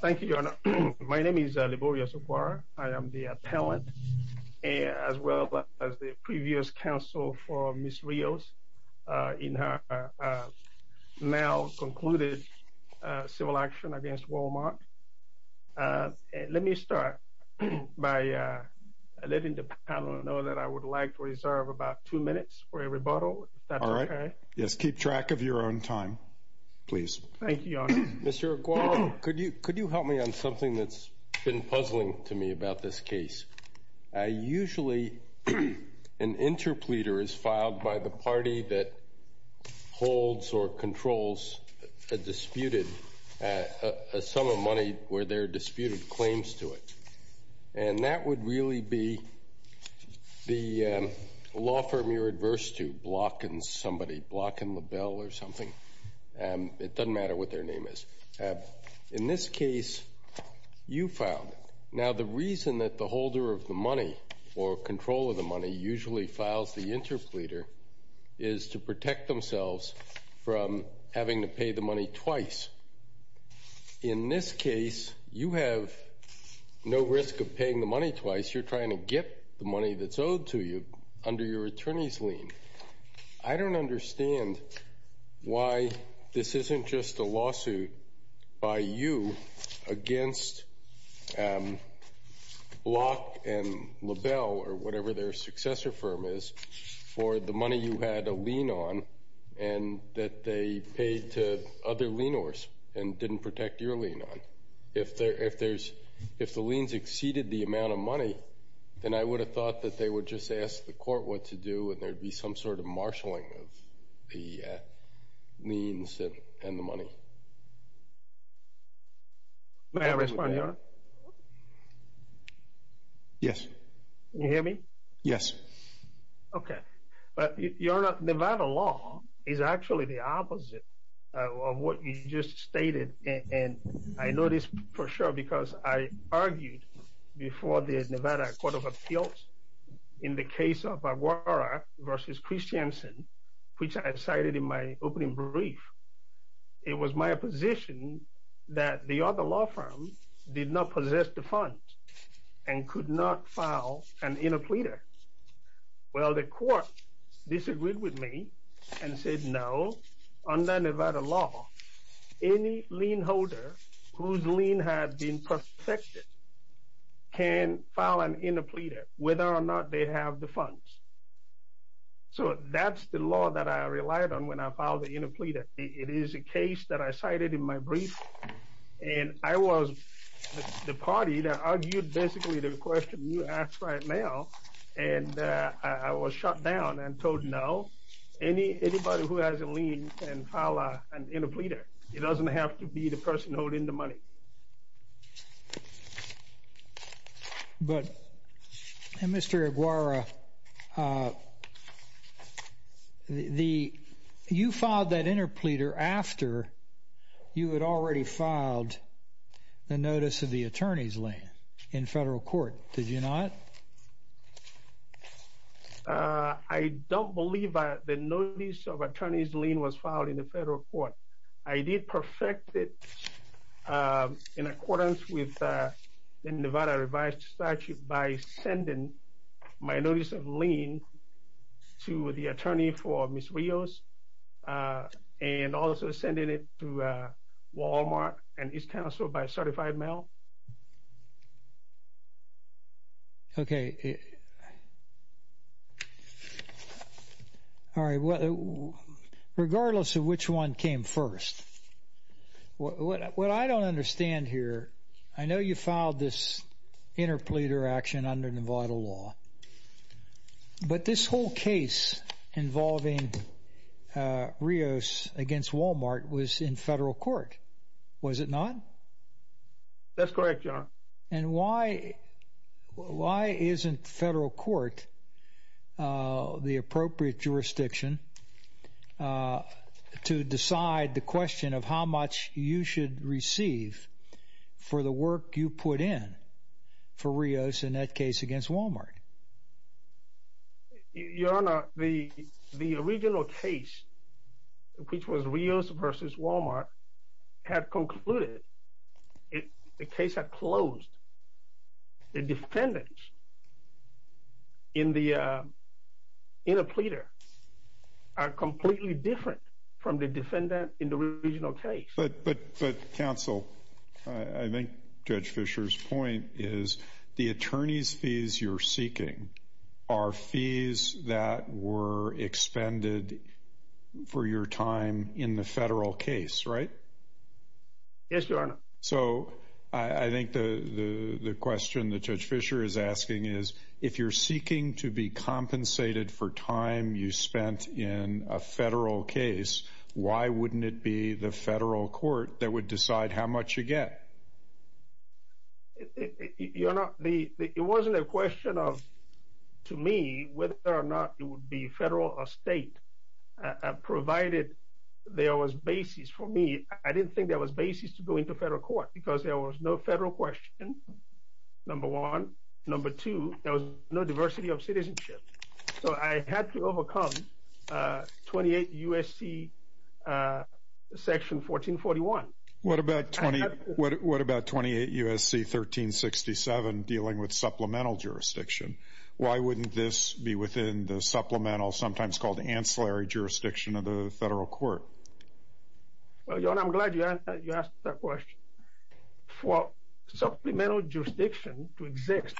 Thank you, Your Honor. My name is Liborius I. Agwara. I am the appellant, as well as the previous counsel for Ms. Rios in her now concluded civil action against Wal-Mart. Let me start by letting the panel know that I would like to reserve about two minutes for a rebuttal, if that's okay. All right. Yes, keep track of your own time, please. Thank you, Your Honor. Mr. Agwara, could you help me on something that's been puzzling to me about this case? Usually an interpleader is filed by the party that holds or controls a disputed sum of money where there are disputed claims to it. And that would really be the law firm you're adverse to, blocking somebody, blocking the bill or something. It doesn't matter what their name is. In this case, you filed it. Now, the reason that the holder of the money or control of the money usually files the interpleader is to protect themselves from having to pay the money twice. In this case, you have no risk of paying the money twice. You're trying to get the money that's owed to you under your attorney's lien. I don't understand why this isn't just a lawsuit by you against Block and LaBelle or whatever their successor firm is for the money you had a lien on and that they paid to other lienors and didn't protect your lien on. If the liens exceeded the amount of money, then I would have thought that they would just ask the court what to do and there would be some sort of marshalling of the liens and the money. May I respond, Your Honor? Yes. Can you hear me? Yes. Okay. But, Your Honor, Nevada law is actually the opposite of what you just stated. And I know this for sure because I argued before the Nevada Court of Appeals in the case of Aguara v. Christiansen, which I cited in my opening brief. It was my position that the other law firm did not possess the funds and could not file an interpleader. Well, the court disagreed with me and said no. Under Nevada law, any lien holder whose lien has been protected can file an interpleader whether or not they have the funds. So that's the law that I relied on when I filed the interpleader. It is a case that I cited in my brief, and I was the party that argued basically the question you asked right now, and I was shut down and told no, anybody who has a lien can file an interpleader. It doesn't have to be the person holding the money. But, Mr. Aguara, you filed that interpleader after you had already filed the notice of the attorney's lien in federal court, did you not? I don't believe the notice of attorney's lien was filed in the federal court. I did perfect it in accordance with the Nevada revised statute by sending my notice of lien to the attorney for Ms. Rios and also sending it to Walmart and East Council by certified mail. Okay. All right. Regardless of which one came first, what I don't understand here, I know you filed this interpleader action under Nevada law, but this whole case involving Rios against Walmart was in federal court, was it not? That's correct, John. And why isn't federal court the appropriate jurisdiction to decide the question of how much you should receive for the work you put in for Rios in that case against Walmart? Your Honor, the original case, which was Rios versus Walmart, had concluded, the case had closed. The defendants in the interpleader are completely different from the defendant in the original case. But counsel, I think Judge Fischer's point is the attorney's fees you're seeking are fees that were expended for your time in the federal case, right? Yes, Your Honor. So I think the question that Judge Fischer is asking is if you're seeking to be compensated for time you spent in a federal case, why wouldn't it be the federal court that would decide how much you get? Your Honor, it wasn't a question of, to me, whether or not it would be federal or state, provided there was basis. For me, I didn't think there was basis to go into federal court because there was no federal question, number one. Number two, there was no diversity of citizenship. So I had to overcome 28 U.S.C. section 1441. What about 28 U.S.C. 1367 dealing with supplemental jurisdiction? Why wouldn't this be within the supplemental, sometimes called ancillary, jurisdiction of the federal court? Well, Your Honor, I'm glad you asked that question. For supplemental jurisdiction to exist,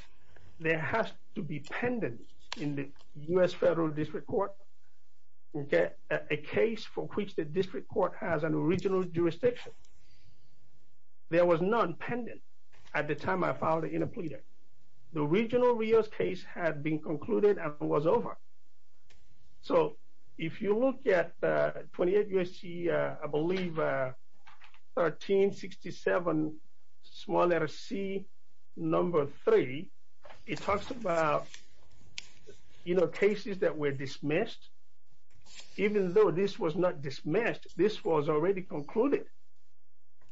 there has to be pendent in the U.S. federal district court, okay, a case for which the district court has an original jurisdiction. There was none pendent at the time I filed the interpleader. The original Rio's case had been concluded and was over. So if you look at 28 U.S.C., I believe, 1367, small letter C, number three, it talks about, you know, cases that were dismissed. Even though this was not dismissed, this was already concluded.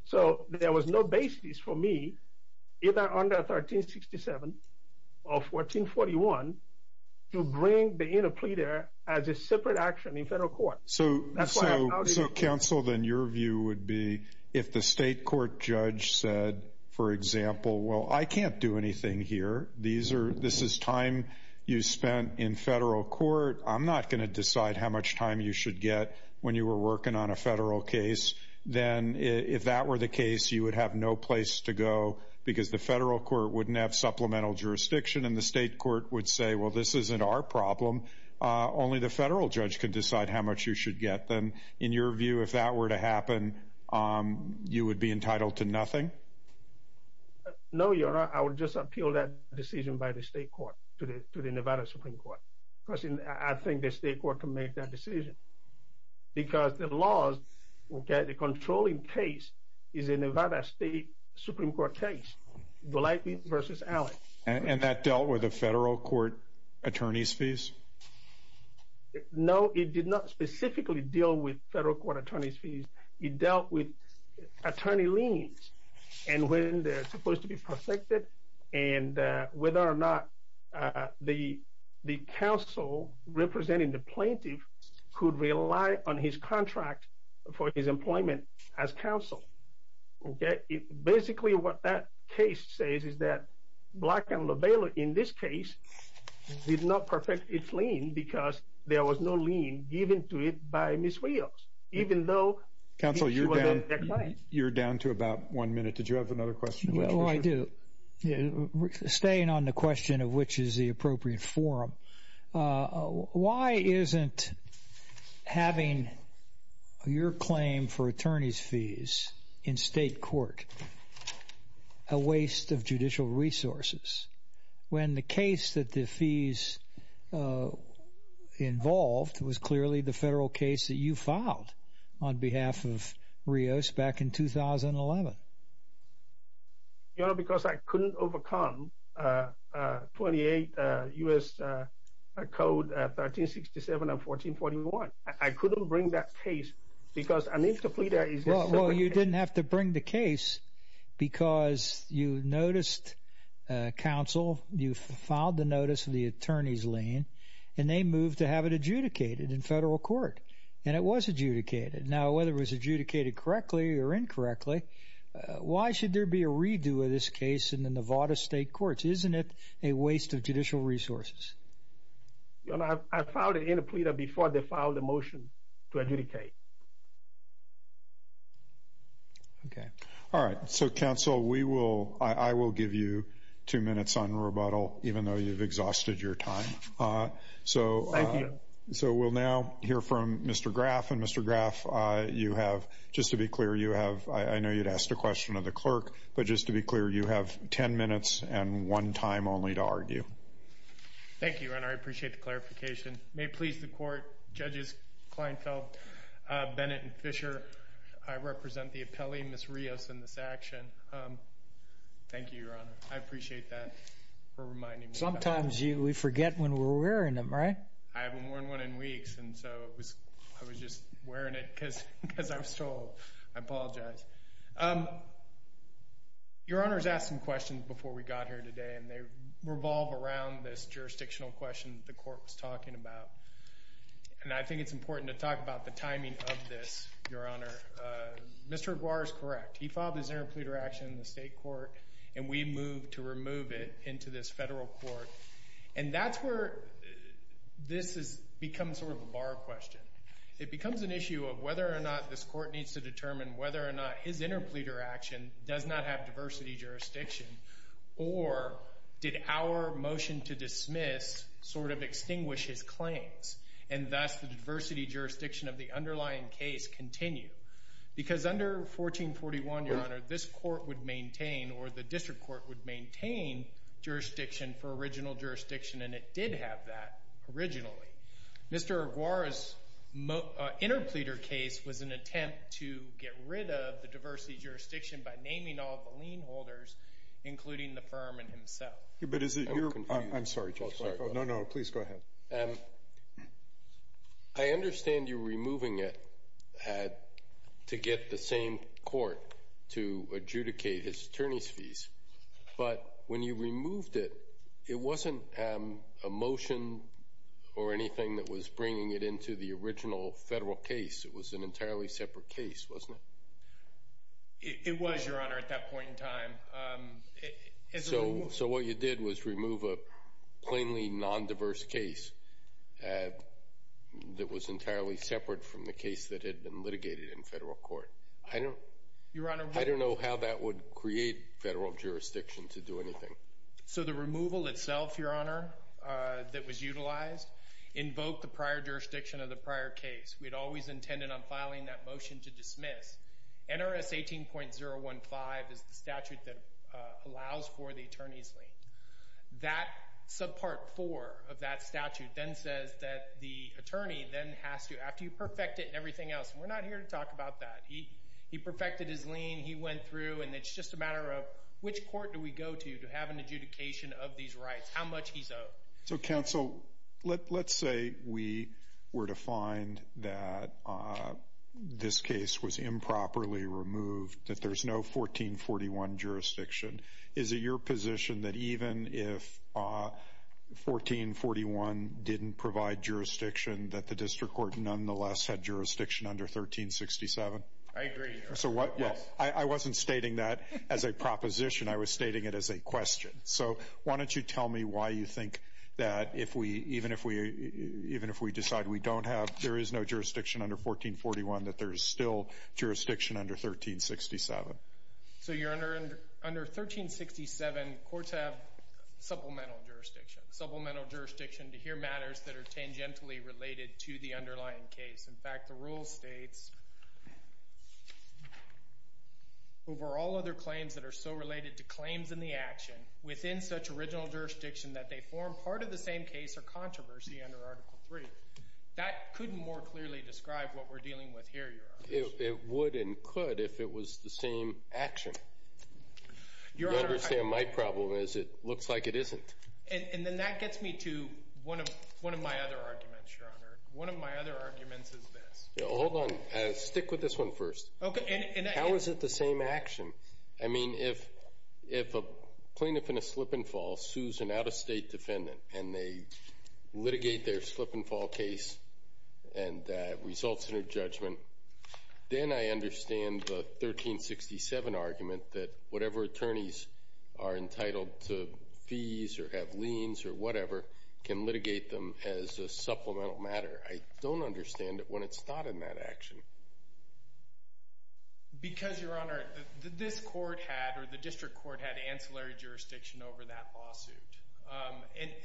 So there was no basis for me, either under 1367 or 1441, to bring the interpleader as a separate action in federal court. So counsel, then your view would be if the state court judge said, for example, well, I can't do anything here. This is time you spent in federal court. I'm not going to decide how much time you should get when you were working on a federal case. Then if that were the case, you would have no place to go because the federal court wouldn't have supplemental jurisdiction and the state court would say, well, this isn't our problem. Only the federal judge can decide how much you should get. Then in your view, if that were to happen, you would be entitled to nothing? No, Your Honor. I would just appeal that decision by the state court to the Nevada Supreme Court. Because I think the state court can make that decision. Because the laws, the controlling case is a Nevada State Supreme Court case. Blythe v. Allen. And that dealt with the federal court attorney's fees? No, it did not specifically deal with federal court attorney's fees. It dealt with attorney liens and when they're supposed to be protected and whether or not the counsel representing the plaintiff could rely on his contract for his employment as counsel. Basically, what that case says is that Blythe v. Allen, in this case, did not perfect its lien because there was no lien given to it by Ms. Rios, even though... Counsel, you're down to about one minute. Did you have another question? Oh, I do. Staying on the question of which is the appropriate forum, why isn't having your claim for attorney's fees in state court a waste of judicial resources when the case that the fees involved was clearly the federal case that you filed on behalf of Rios back in 2011? You know, because I couldn't overcome 28 U.S. Code 1367 and 1441. I couldn't bring that case because... Well, you didn't have to bring the case because you noticed counsel, you filed the notice of the attorney's lien, and they moved to have it adjudicated in federal court. And it was adjudicated. Now, whether it was adjudicated correctly or incorrectly, why should there be a redo of this case in the Nevada state courts? Isn't it a waste of judicial resources? I filed it in a plea before they filed a motion to adjudicate. Okay. All right. So, counsel, I will give you two minutes on rebuttal, even though you've exhausted your time. Thank you. So we'll now hear from Mr. Graff. And, Mr. Graff, you have, just to be clear, you have, I know you'd ask the question of the clerk, but just to be clear, you have 10 minutes and one time only to argue. Thank you, Your Honor. I appreciate the clarification. May it please the Court, Judges Kleinfeld, Bennett, and Fisher, I represent the appellee, Ms. Rios, in this action. Thank you, Your Honor. I appreciate that for reminding me. Sometimes we forget when we're wearing them, right? I haven't worn one in weeks, and so I was just wearing it because I was told. I apologize. Your Honor has asked some questions before we got here today, and they revolve around this jurisdictional question that the Court was talking about. And I think it's important to talk about the timing of this, Your Honor. Mr. Aguirre is correct. He filed his interpleader action in the state court, and we moved to remove it into this federal court. And that's where this has become sort of a bar question. It becomes an issue of whether or not this Court needs to determine whether or not his interpleader action does not have diversity jurisdiction or did our motion to dismiss sort of extinguish his claims and thus the diversity jurisdiction of the underlying case continue. Because under 1441, Your Honor, this court would maintain or the district court would maintain jurisdiction for original jurisdiction, and it did have that originally. Mr. Aguirre's interpleader case was an attempt to get rid of the diversity jurisdiction by naming all the lien holders, including the firm and himself. I'm sorry, Judge Blanco. No, no, please go ahead. I understand you removing it had to get the same court to adjudicate his attorney's fees. But when you removed it, it wasn't a motion or anything that was bringing it into the original federal case. It was an entirely separate case, wasn't it? It was, Your Honor, at that point in time. So what you did was remove a plainly nondiverse case that was entirely separate from the case that had been litigated in federal court. I don't know how that would create federal jurisdiction to do anything. So the removal itself, Your Honor, that was utilized invoked the prior jurisdiction of the prior case. We had always intended on filing that motion to dismiss. NRS 18.015 is the statute that allows for the attorney's lien. That subpart four of that statute then says that the attorney then has to, in fact, you perfect it and everything else. We're not here to talk about that. He perfected his lien. He went through. And it's just a matter of which court do we go to to have an adjudication of these rights, how much he's owed. So, counsel, let's say we were to find that this case was improperly removed, that there's no 1441 jurisdiction. Is it your position that even if 1441 didn't provide jurisdiction, that the district court nonetheless had jurisdiction under 1367? I agree, Your Honor. I wasn't stating that as a proposition. I was stating it as a question. So why don't you tell me why you think that even if we decide we don't have, there is no jurisdiction under 1441, that there is still jurisdiction under 1367? So, Your Honor, under 1367, courts have supplemental jurisdiction, supplemental jurisdiction to hear matters that are tangentially related to the underlying case. In fact, the rule states, over all other claims that are so related to claims in the action, within such original jurisdiction that they form part of the same case or controversy under Article III. That couldn't more clearly describe what we're dealing with here, Your Honor. It would and could if it was the same action. You understand my problem is it looks like it isn't. And then that gets me to one of my other arguments, Your Honor. One of my other arguments is this. Hold on. Stick with this one first. How is it the same action? I mean, if a plaintiff in a slip-and-fall sues an out-of-state defendant and they litigate their slip-and-fall case and that results in a judgment, then I understand the 1367 argument that whatever attorneys are entitled to fees or have liens or whatever can litigate them as a supplemental matter. I don't understand it when it's not in that action. Because, Your Honor, this court had or the district court had ancillary jurisdiction over that lawsuit.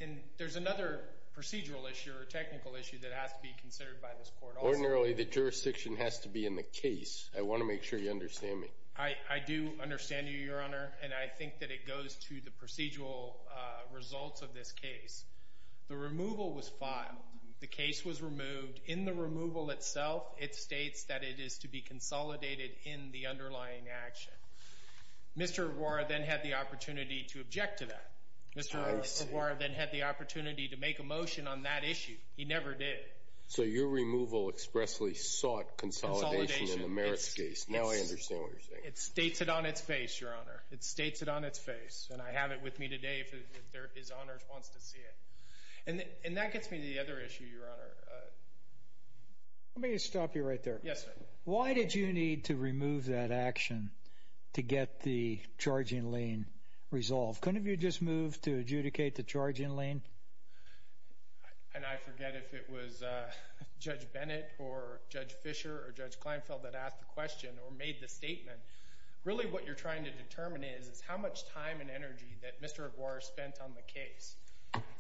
And there's another procedural issue or technical issue that has to be considered by this court also. Ordinarily, the jurisdiction has to be in the case. I want to make sure you understand me. I do understand you, Your Honor, and I think that it goes to the procedural results of this case. The removal was filed. The case was removed. In the removal itself, it states that it is to be consolidated in the underlying action. Mr. O'Rourke then had the opportunity to object to that. Mr. O'Rourke then had the opportunity to make a motion on that issue. He never did. So your removal expressly sought consolidation in the merits case. Now I understand what you're saying. It states it on its face, Your Honor. It states it on its face. And I have it with me today if His Honor wants to see it. And that gets me to the other issue, Your Honor. Let me stop you right there. Yes, sir. Why did you need to remove that action to get the charging lien resolved? Couldn't you have just moved to adjudicate the charging lien? And I forget if it was Judge Bennett or Judge Fischer or Judge Kleinfeld that asked the question or made the statement. Really what you're trying to determine is how much time and energy that Mr. Aguirre spent on the case.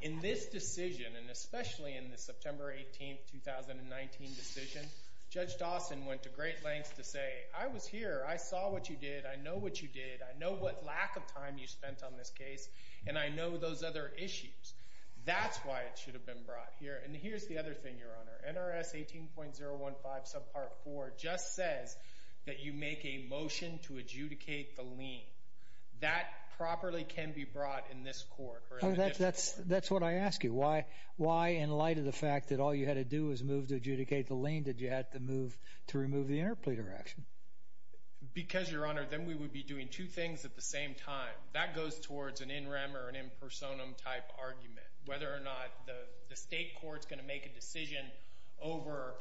In this decision, and especially in the September 18, 2019 decision, Judge Dawson went to great lengths to say, I was here. I saw what you did. I know what you did. I know what lack of time you spent on this case. And I know those other issues. That's why it should have been brought here. And here's the other thing, Your Honor. NRS 18.015 subpart 4 just says that you make a motion to adjudicate the lien. That properly can be brought in this court. That's what I ask you. Why, in light of the fact that all you had to do was move to adjudicate the lien, did you have to move to remove the interpleader action? Because, Your Honor, then we would be doing two things at the same time. That goes towards an in rem or an in personam type argument, whether or not the state court's going to make a decision over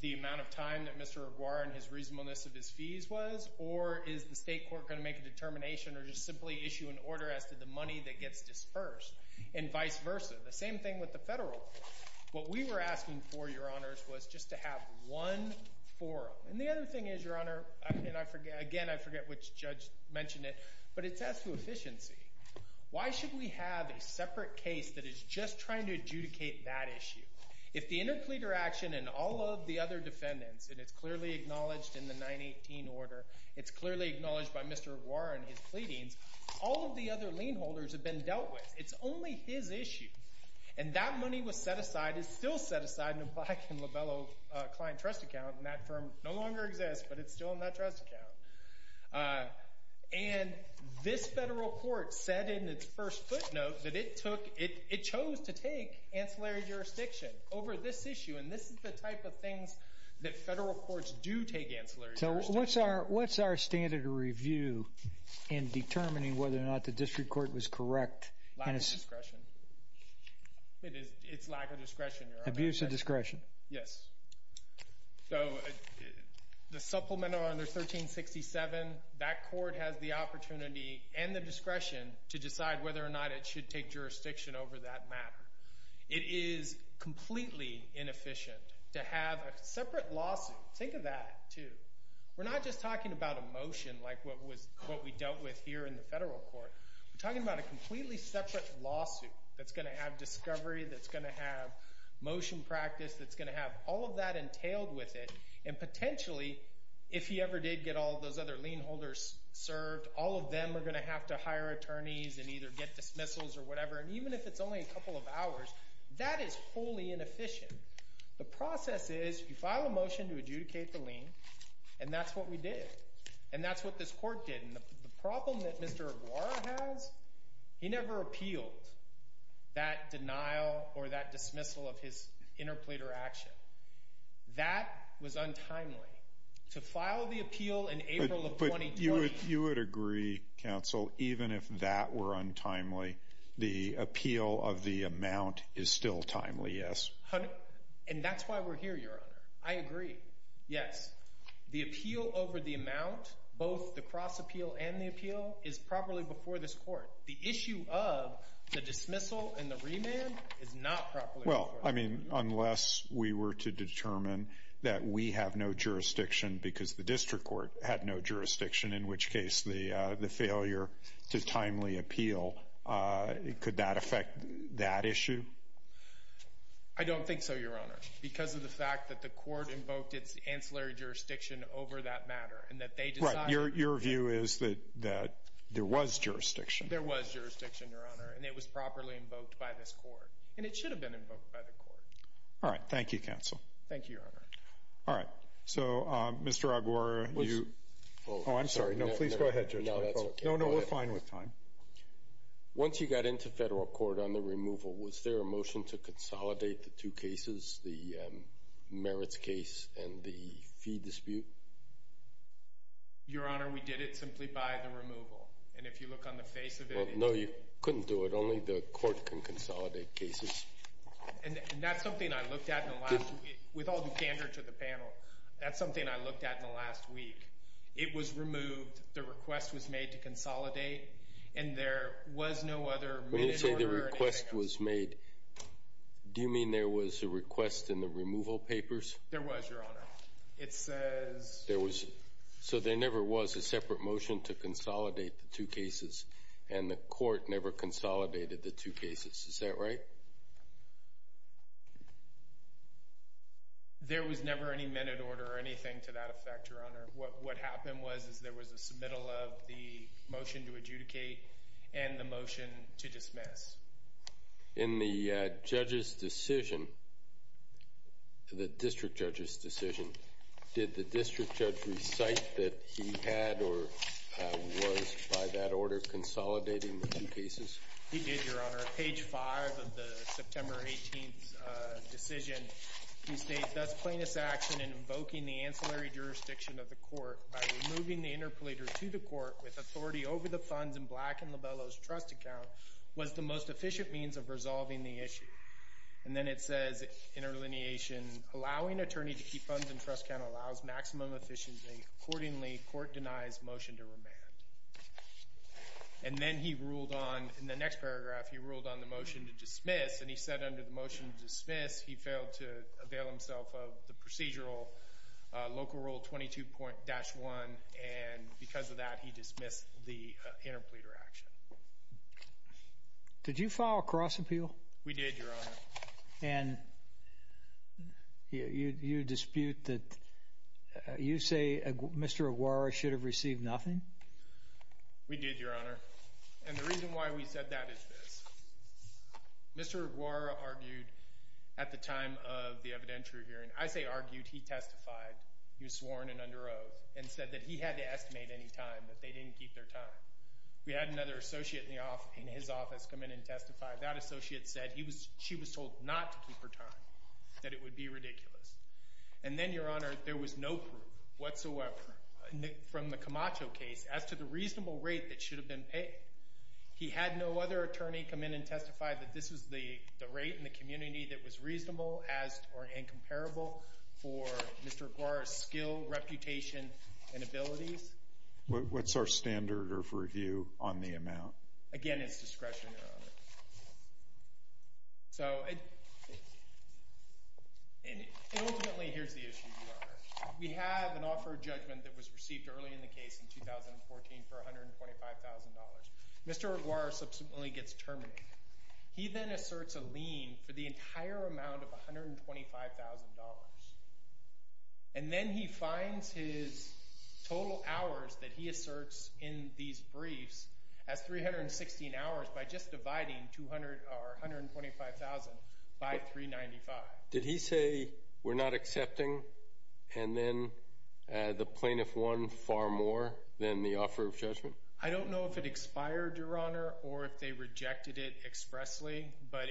the amount of time that Mr. Aguirre and his reasonableness of his fees was, or is the state court going to make a determination or just simply issue an order as to the money that gets disbursed, and vice versa. The same thing with the federal court. What we were asking for, Your Honors, was just to have one forum. And the other thing is, Your Honor, and again, I forget which judge mentioned it, but it's as to efficiency. Why should we have a separate case that is just trying to adjudicate that issue? If the interpleader action and all of the other defendants, and it's clearly acknowledged in the 918 order, it's clearly acknowledged by Mr. Aguirre in his pleadings, all of the other lien holders have been dealt with. It's only his issue. And that money was set aside, is still set aside in a Black and Lobello client trust account, and that firm no longer exists, but it's still in that trust account. And this federal court said in its first footnote that it chose to take ancillary jurisdiction over this issue, and this is the type of things that federal courts do take ancillary jurisdiction over. So what's our standard of review in determining whether or not the district court was correct? Lack of discretion. It's lack of discretion, Your Honor. Abuse of discretion. Yes. So the supplemental under 1367, that court has the opportunity and the discretion to decide whether or not it should take jurisdiction over that matter. It is completely inefficient to have a separate lawsuit. Think of that, too. We're not just talking about a motion like what we dealt with here in the federal court. We're talking about a completely separate lawsuit that's going to have discovery, that's going to have motion practice, that's going to have all of that entailed with it, and potentially, if he ever did get all of those other lien holders served, all of them are going to have to hire attorneys and either get dismissals or whatever, and even if it's only a couple of hours, that is wholly inefficient. The process is you file a motion to adjudicate the lien, and that's what we did, and that's what this court did. The problem that Mr. Aguirre has, he never appealed that denial or that dismissal of his interpleader action. That was untimely. To file the appeal in April of 2020. But you would agree, counsel, even if that were untimely, the appeal of the amount is still timely, yes? And that's why we're here, Your Honor. I agree. Yes. The appeal over the amount, both the cross appeal and the appeal, is properly before this court. The issue of the dismissal and the remand is not properly before this court. Well, I mean, unless we were to determine that we have no jurisdiction because the district court had no jurisdiction, in which case the failure to timely appeal, could that affect that issue? I don't think so, Your Honor. Because of the fact that the court invoked its ancillary jurisdiction over that matter and that they decided. Right. Your view is that there was jurisdiction. There was jurisdiction, Your Honor, and it was properly invoked by this court. And it should have been invoked by the court. All right. Thank you, counsel. Thank you, Your Honor. All right. So, Mr. Aguirre, you... Oh, I'm sorry. No, please go ahead, Judge. No, that's okay. No, no, we're fine with time. Once you got into federal court on the removal, was there a motion to consolidate the two cases, the merits case and the fee dispute? Your Honor, we did it simply by the removal. And if you look on the face of it... No, you couldn't do it. Only the court can consolidate cases. And that's something I looked at in the last... With all the candor to the panel, that's something I looked at in the last week. It was removed. The request was made to consolidate. And there was no other minute order... When you say the request was made, do you mean there was a request in the removal papers? There was, Your Honor. It says... There was... So there never was a separate motion to consolidate the two cases. And the court never consolidated the two cases. Is that right? There was never any minute order or anything to that effect, Your Honor. What happened was there was a submittal of the motion to adjudicate and the motion to dismiss. In the judge's decision, the district judge's decision, did the district judge recite that he had or was, by that order, consolidating the two cases? He did, Your Honor. On page 5 of the September 18th decision, he states, Thus plaintiff's action in invoking the ancillary jurisdiction of the court by removing the interpolator to the court with authority over the funds in Black and Lobello's trust account was the most efficient means of resolving the issue. And then it says, in allineation, Allowing attorney to keep funds in trust account allows maximum efficiency. Accordingly, court denies motion to remand. And then he ruled on, in the next paragraph, he ruled on the motion to dismiss. And he said under the motion to dismiss, he failed to avail himself of the procedural local rule 22.1. And because of that, he dismissed the interpolator action. Did you file a cross appeal? We did, Your Honor. And you dispute that you say Mr. Aguara should have received nothing? We did, Your Honor. And the reason why we said that is this. Mr. Aguara argued at the time of the evidentiary hearing, I say argued, he testified. He was sworn and under oath and said that he had to estimate any time that they didn't keep their time. That associate said she was told not to keep her time, that it would be ridiculous. And then, Your Honor, there was no proof whatsoever from the Camacho case as to the reasonable rate that should have been paid. He had no other attorney come in and testify that this was the rate in the community that was reasonable as or incomparable for Mr. Aguara's skill, reputation, and abilities. What's our standard of review on the amount? Again, it's discretion, Your Honor. So ultimately, here's the issue, Your Honor. We have an offer of judgment that was received early in the case in 2014 for $125,000. Mr. Aguara subsequently gets terminated. He then asserts a lien for the entire amount of $125,000. And then he finds his total hours that he asserts in these briefs as 316 hours by just dividing $125,000 by 395. Did he say we're not accepting? And then the plaintiff won far more than the offer of judgment? I don't know if it expired, Your Honor, or if they rejected it expressly, but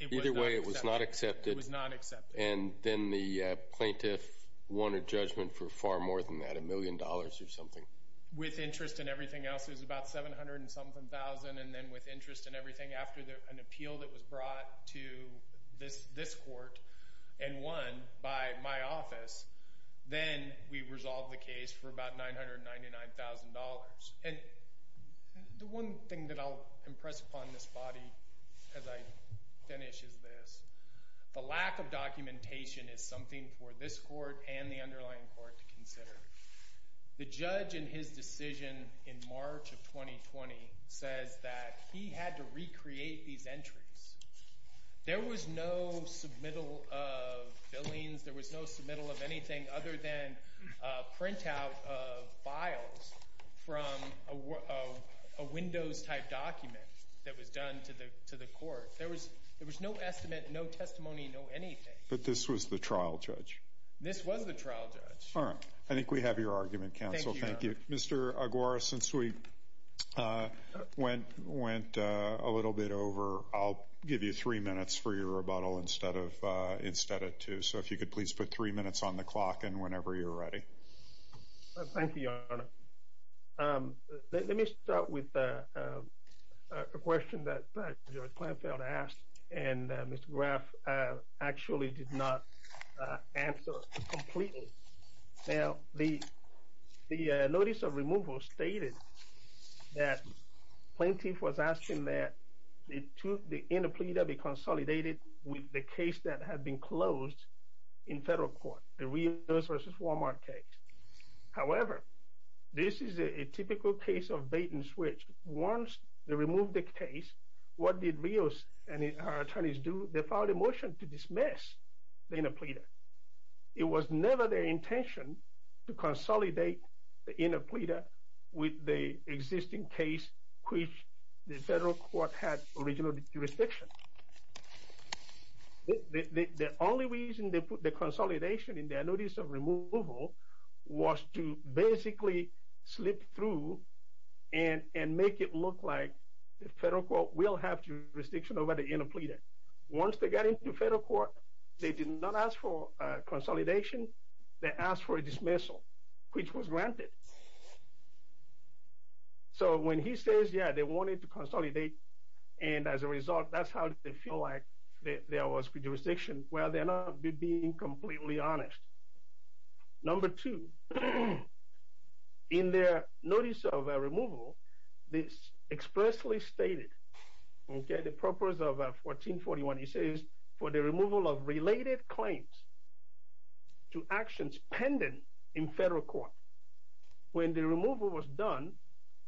it was not accepted. It was not accepted. And then the plaintiff won a judgment for far more than that, a million dollars or something? With interest and everything else, it was about 700 and something thousand. And then with interest and everything, after an appeal that was brought to this court and won by my office, then we resolved the case for about $999,000. And the one thing that I'll impress upon this body as I finish is this. The lack of documentation is something for this court and the underlying court to consider. The judge in his decision in March of 2020 says that he had to recreate these entries. There was no submittal of fillings. There was no submittal of anything other than a printout of files from a Windows-type document that was done to the court. There was no estimate, no testimony, no anything. But this was the trial judge? This was the trial judge. All right. Thank you, Your Honor. Your Honor, since we went a little bit over, I'll give you three minutes for your rebuttal instead of two. So if you could please put three minutes on the clock and whenever you're ready. Thank you, Your Honor. Let me start with a question that Judge Planfield asked and Mr. Graff actually did not answer completely. Now, the notice of removal stated that Planfield was asking that the inner pleader be consolidated with the case that had been closed in federal court, the Rios v. Walmart case. However, this is a typical case of bait and switch. Once they removed the case, what did Rios and her attorneys do? They filed a motion to dismiss the inner pleader. It was never their intention to consolidate the inner pleader with the existing case which the federal court had original jurisdiction. The only reason they put the consolidation in their notice of removal was to basically slip through and make it look like the federal court will have jurisdiction over the inner pleader. Once they got into federal court, they did not ask for consolidation. They asked for a dismissal, which was granted. So when he says, yeah, they wanted to consolidate and as a result, that's how they feel like there was jurisdiction. Well, they're not being completely honest. Number two, in their notice of removal, this expressly stated the purpose of 1441, he says, for the removal of related claims to actions pending in federal court. When the removal was done,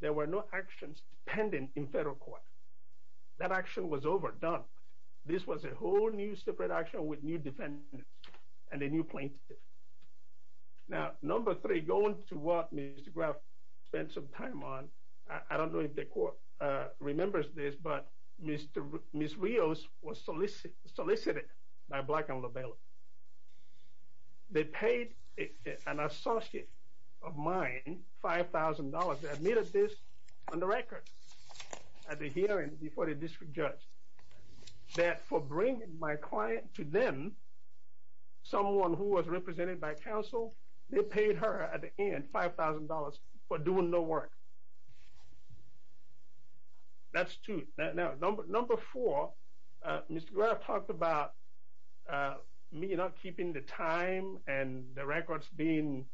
there were no actions pending in federal court. That action was overdone. This was a whole new separate action with new defendants and a new plaintiff. Now, number three, going to what Mr. Graf spent some time on, I don't know if the court remembers this, but Ms. Rios was solicited by Black and LaBelle. They paid an associate of mine $5,000. They admitted this on the record at the hearing before the district judge that for bringing my client to them, someone who was represented by counsel, they paid her at the end $5,000 for doing no work. That's two. Now, number four, Mr. Graf talked about me not keeping the time and the records being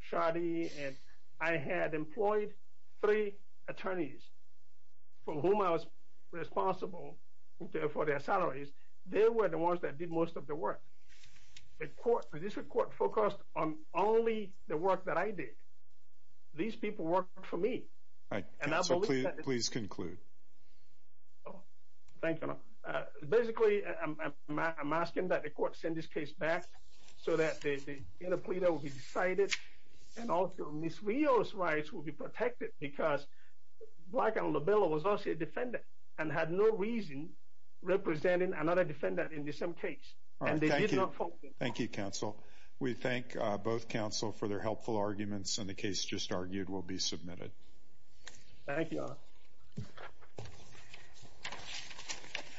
shoddy. And I had employed three attorneys from whom I was responsible for their salaries. They were the ones that did most of the work. The district court focused on only the work that I did. These people worked for me. All right. Counsel, please conclude. Thank you. Basically, I'm asking that the court send this case back so that the inner plea that will be decided and also Ms. Rios' rights will be protected because Black and LaBelle was also a defendant and had no reason representing another defendant in the same case. All right. Thank you. Thank you, counsel. We thank both counsel for their helpful arguments, and the case just argued will be submitted.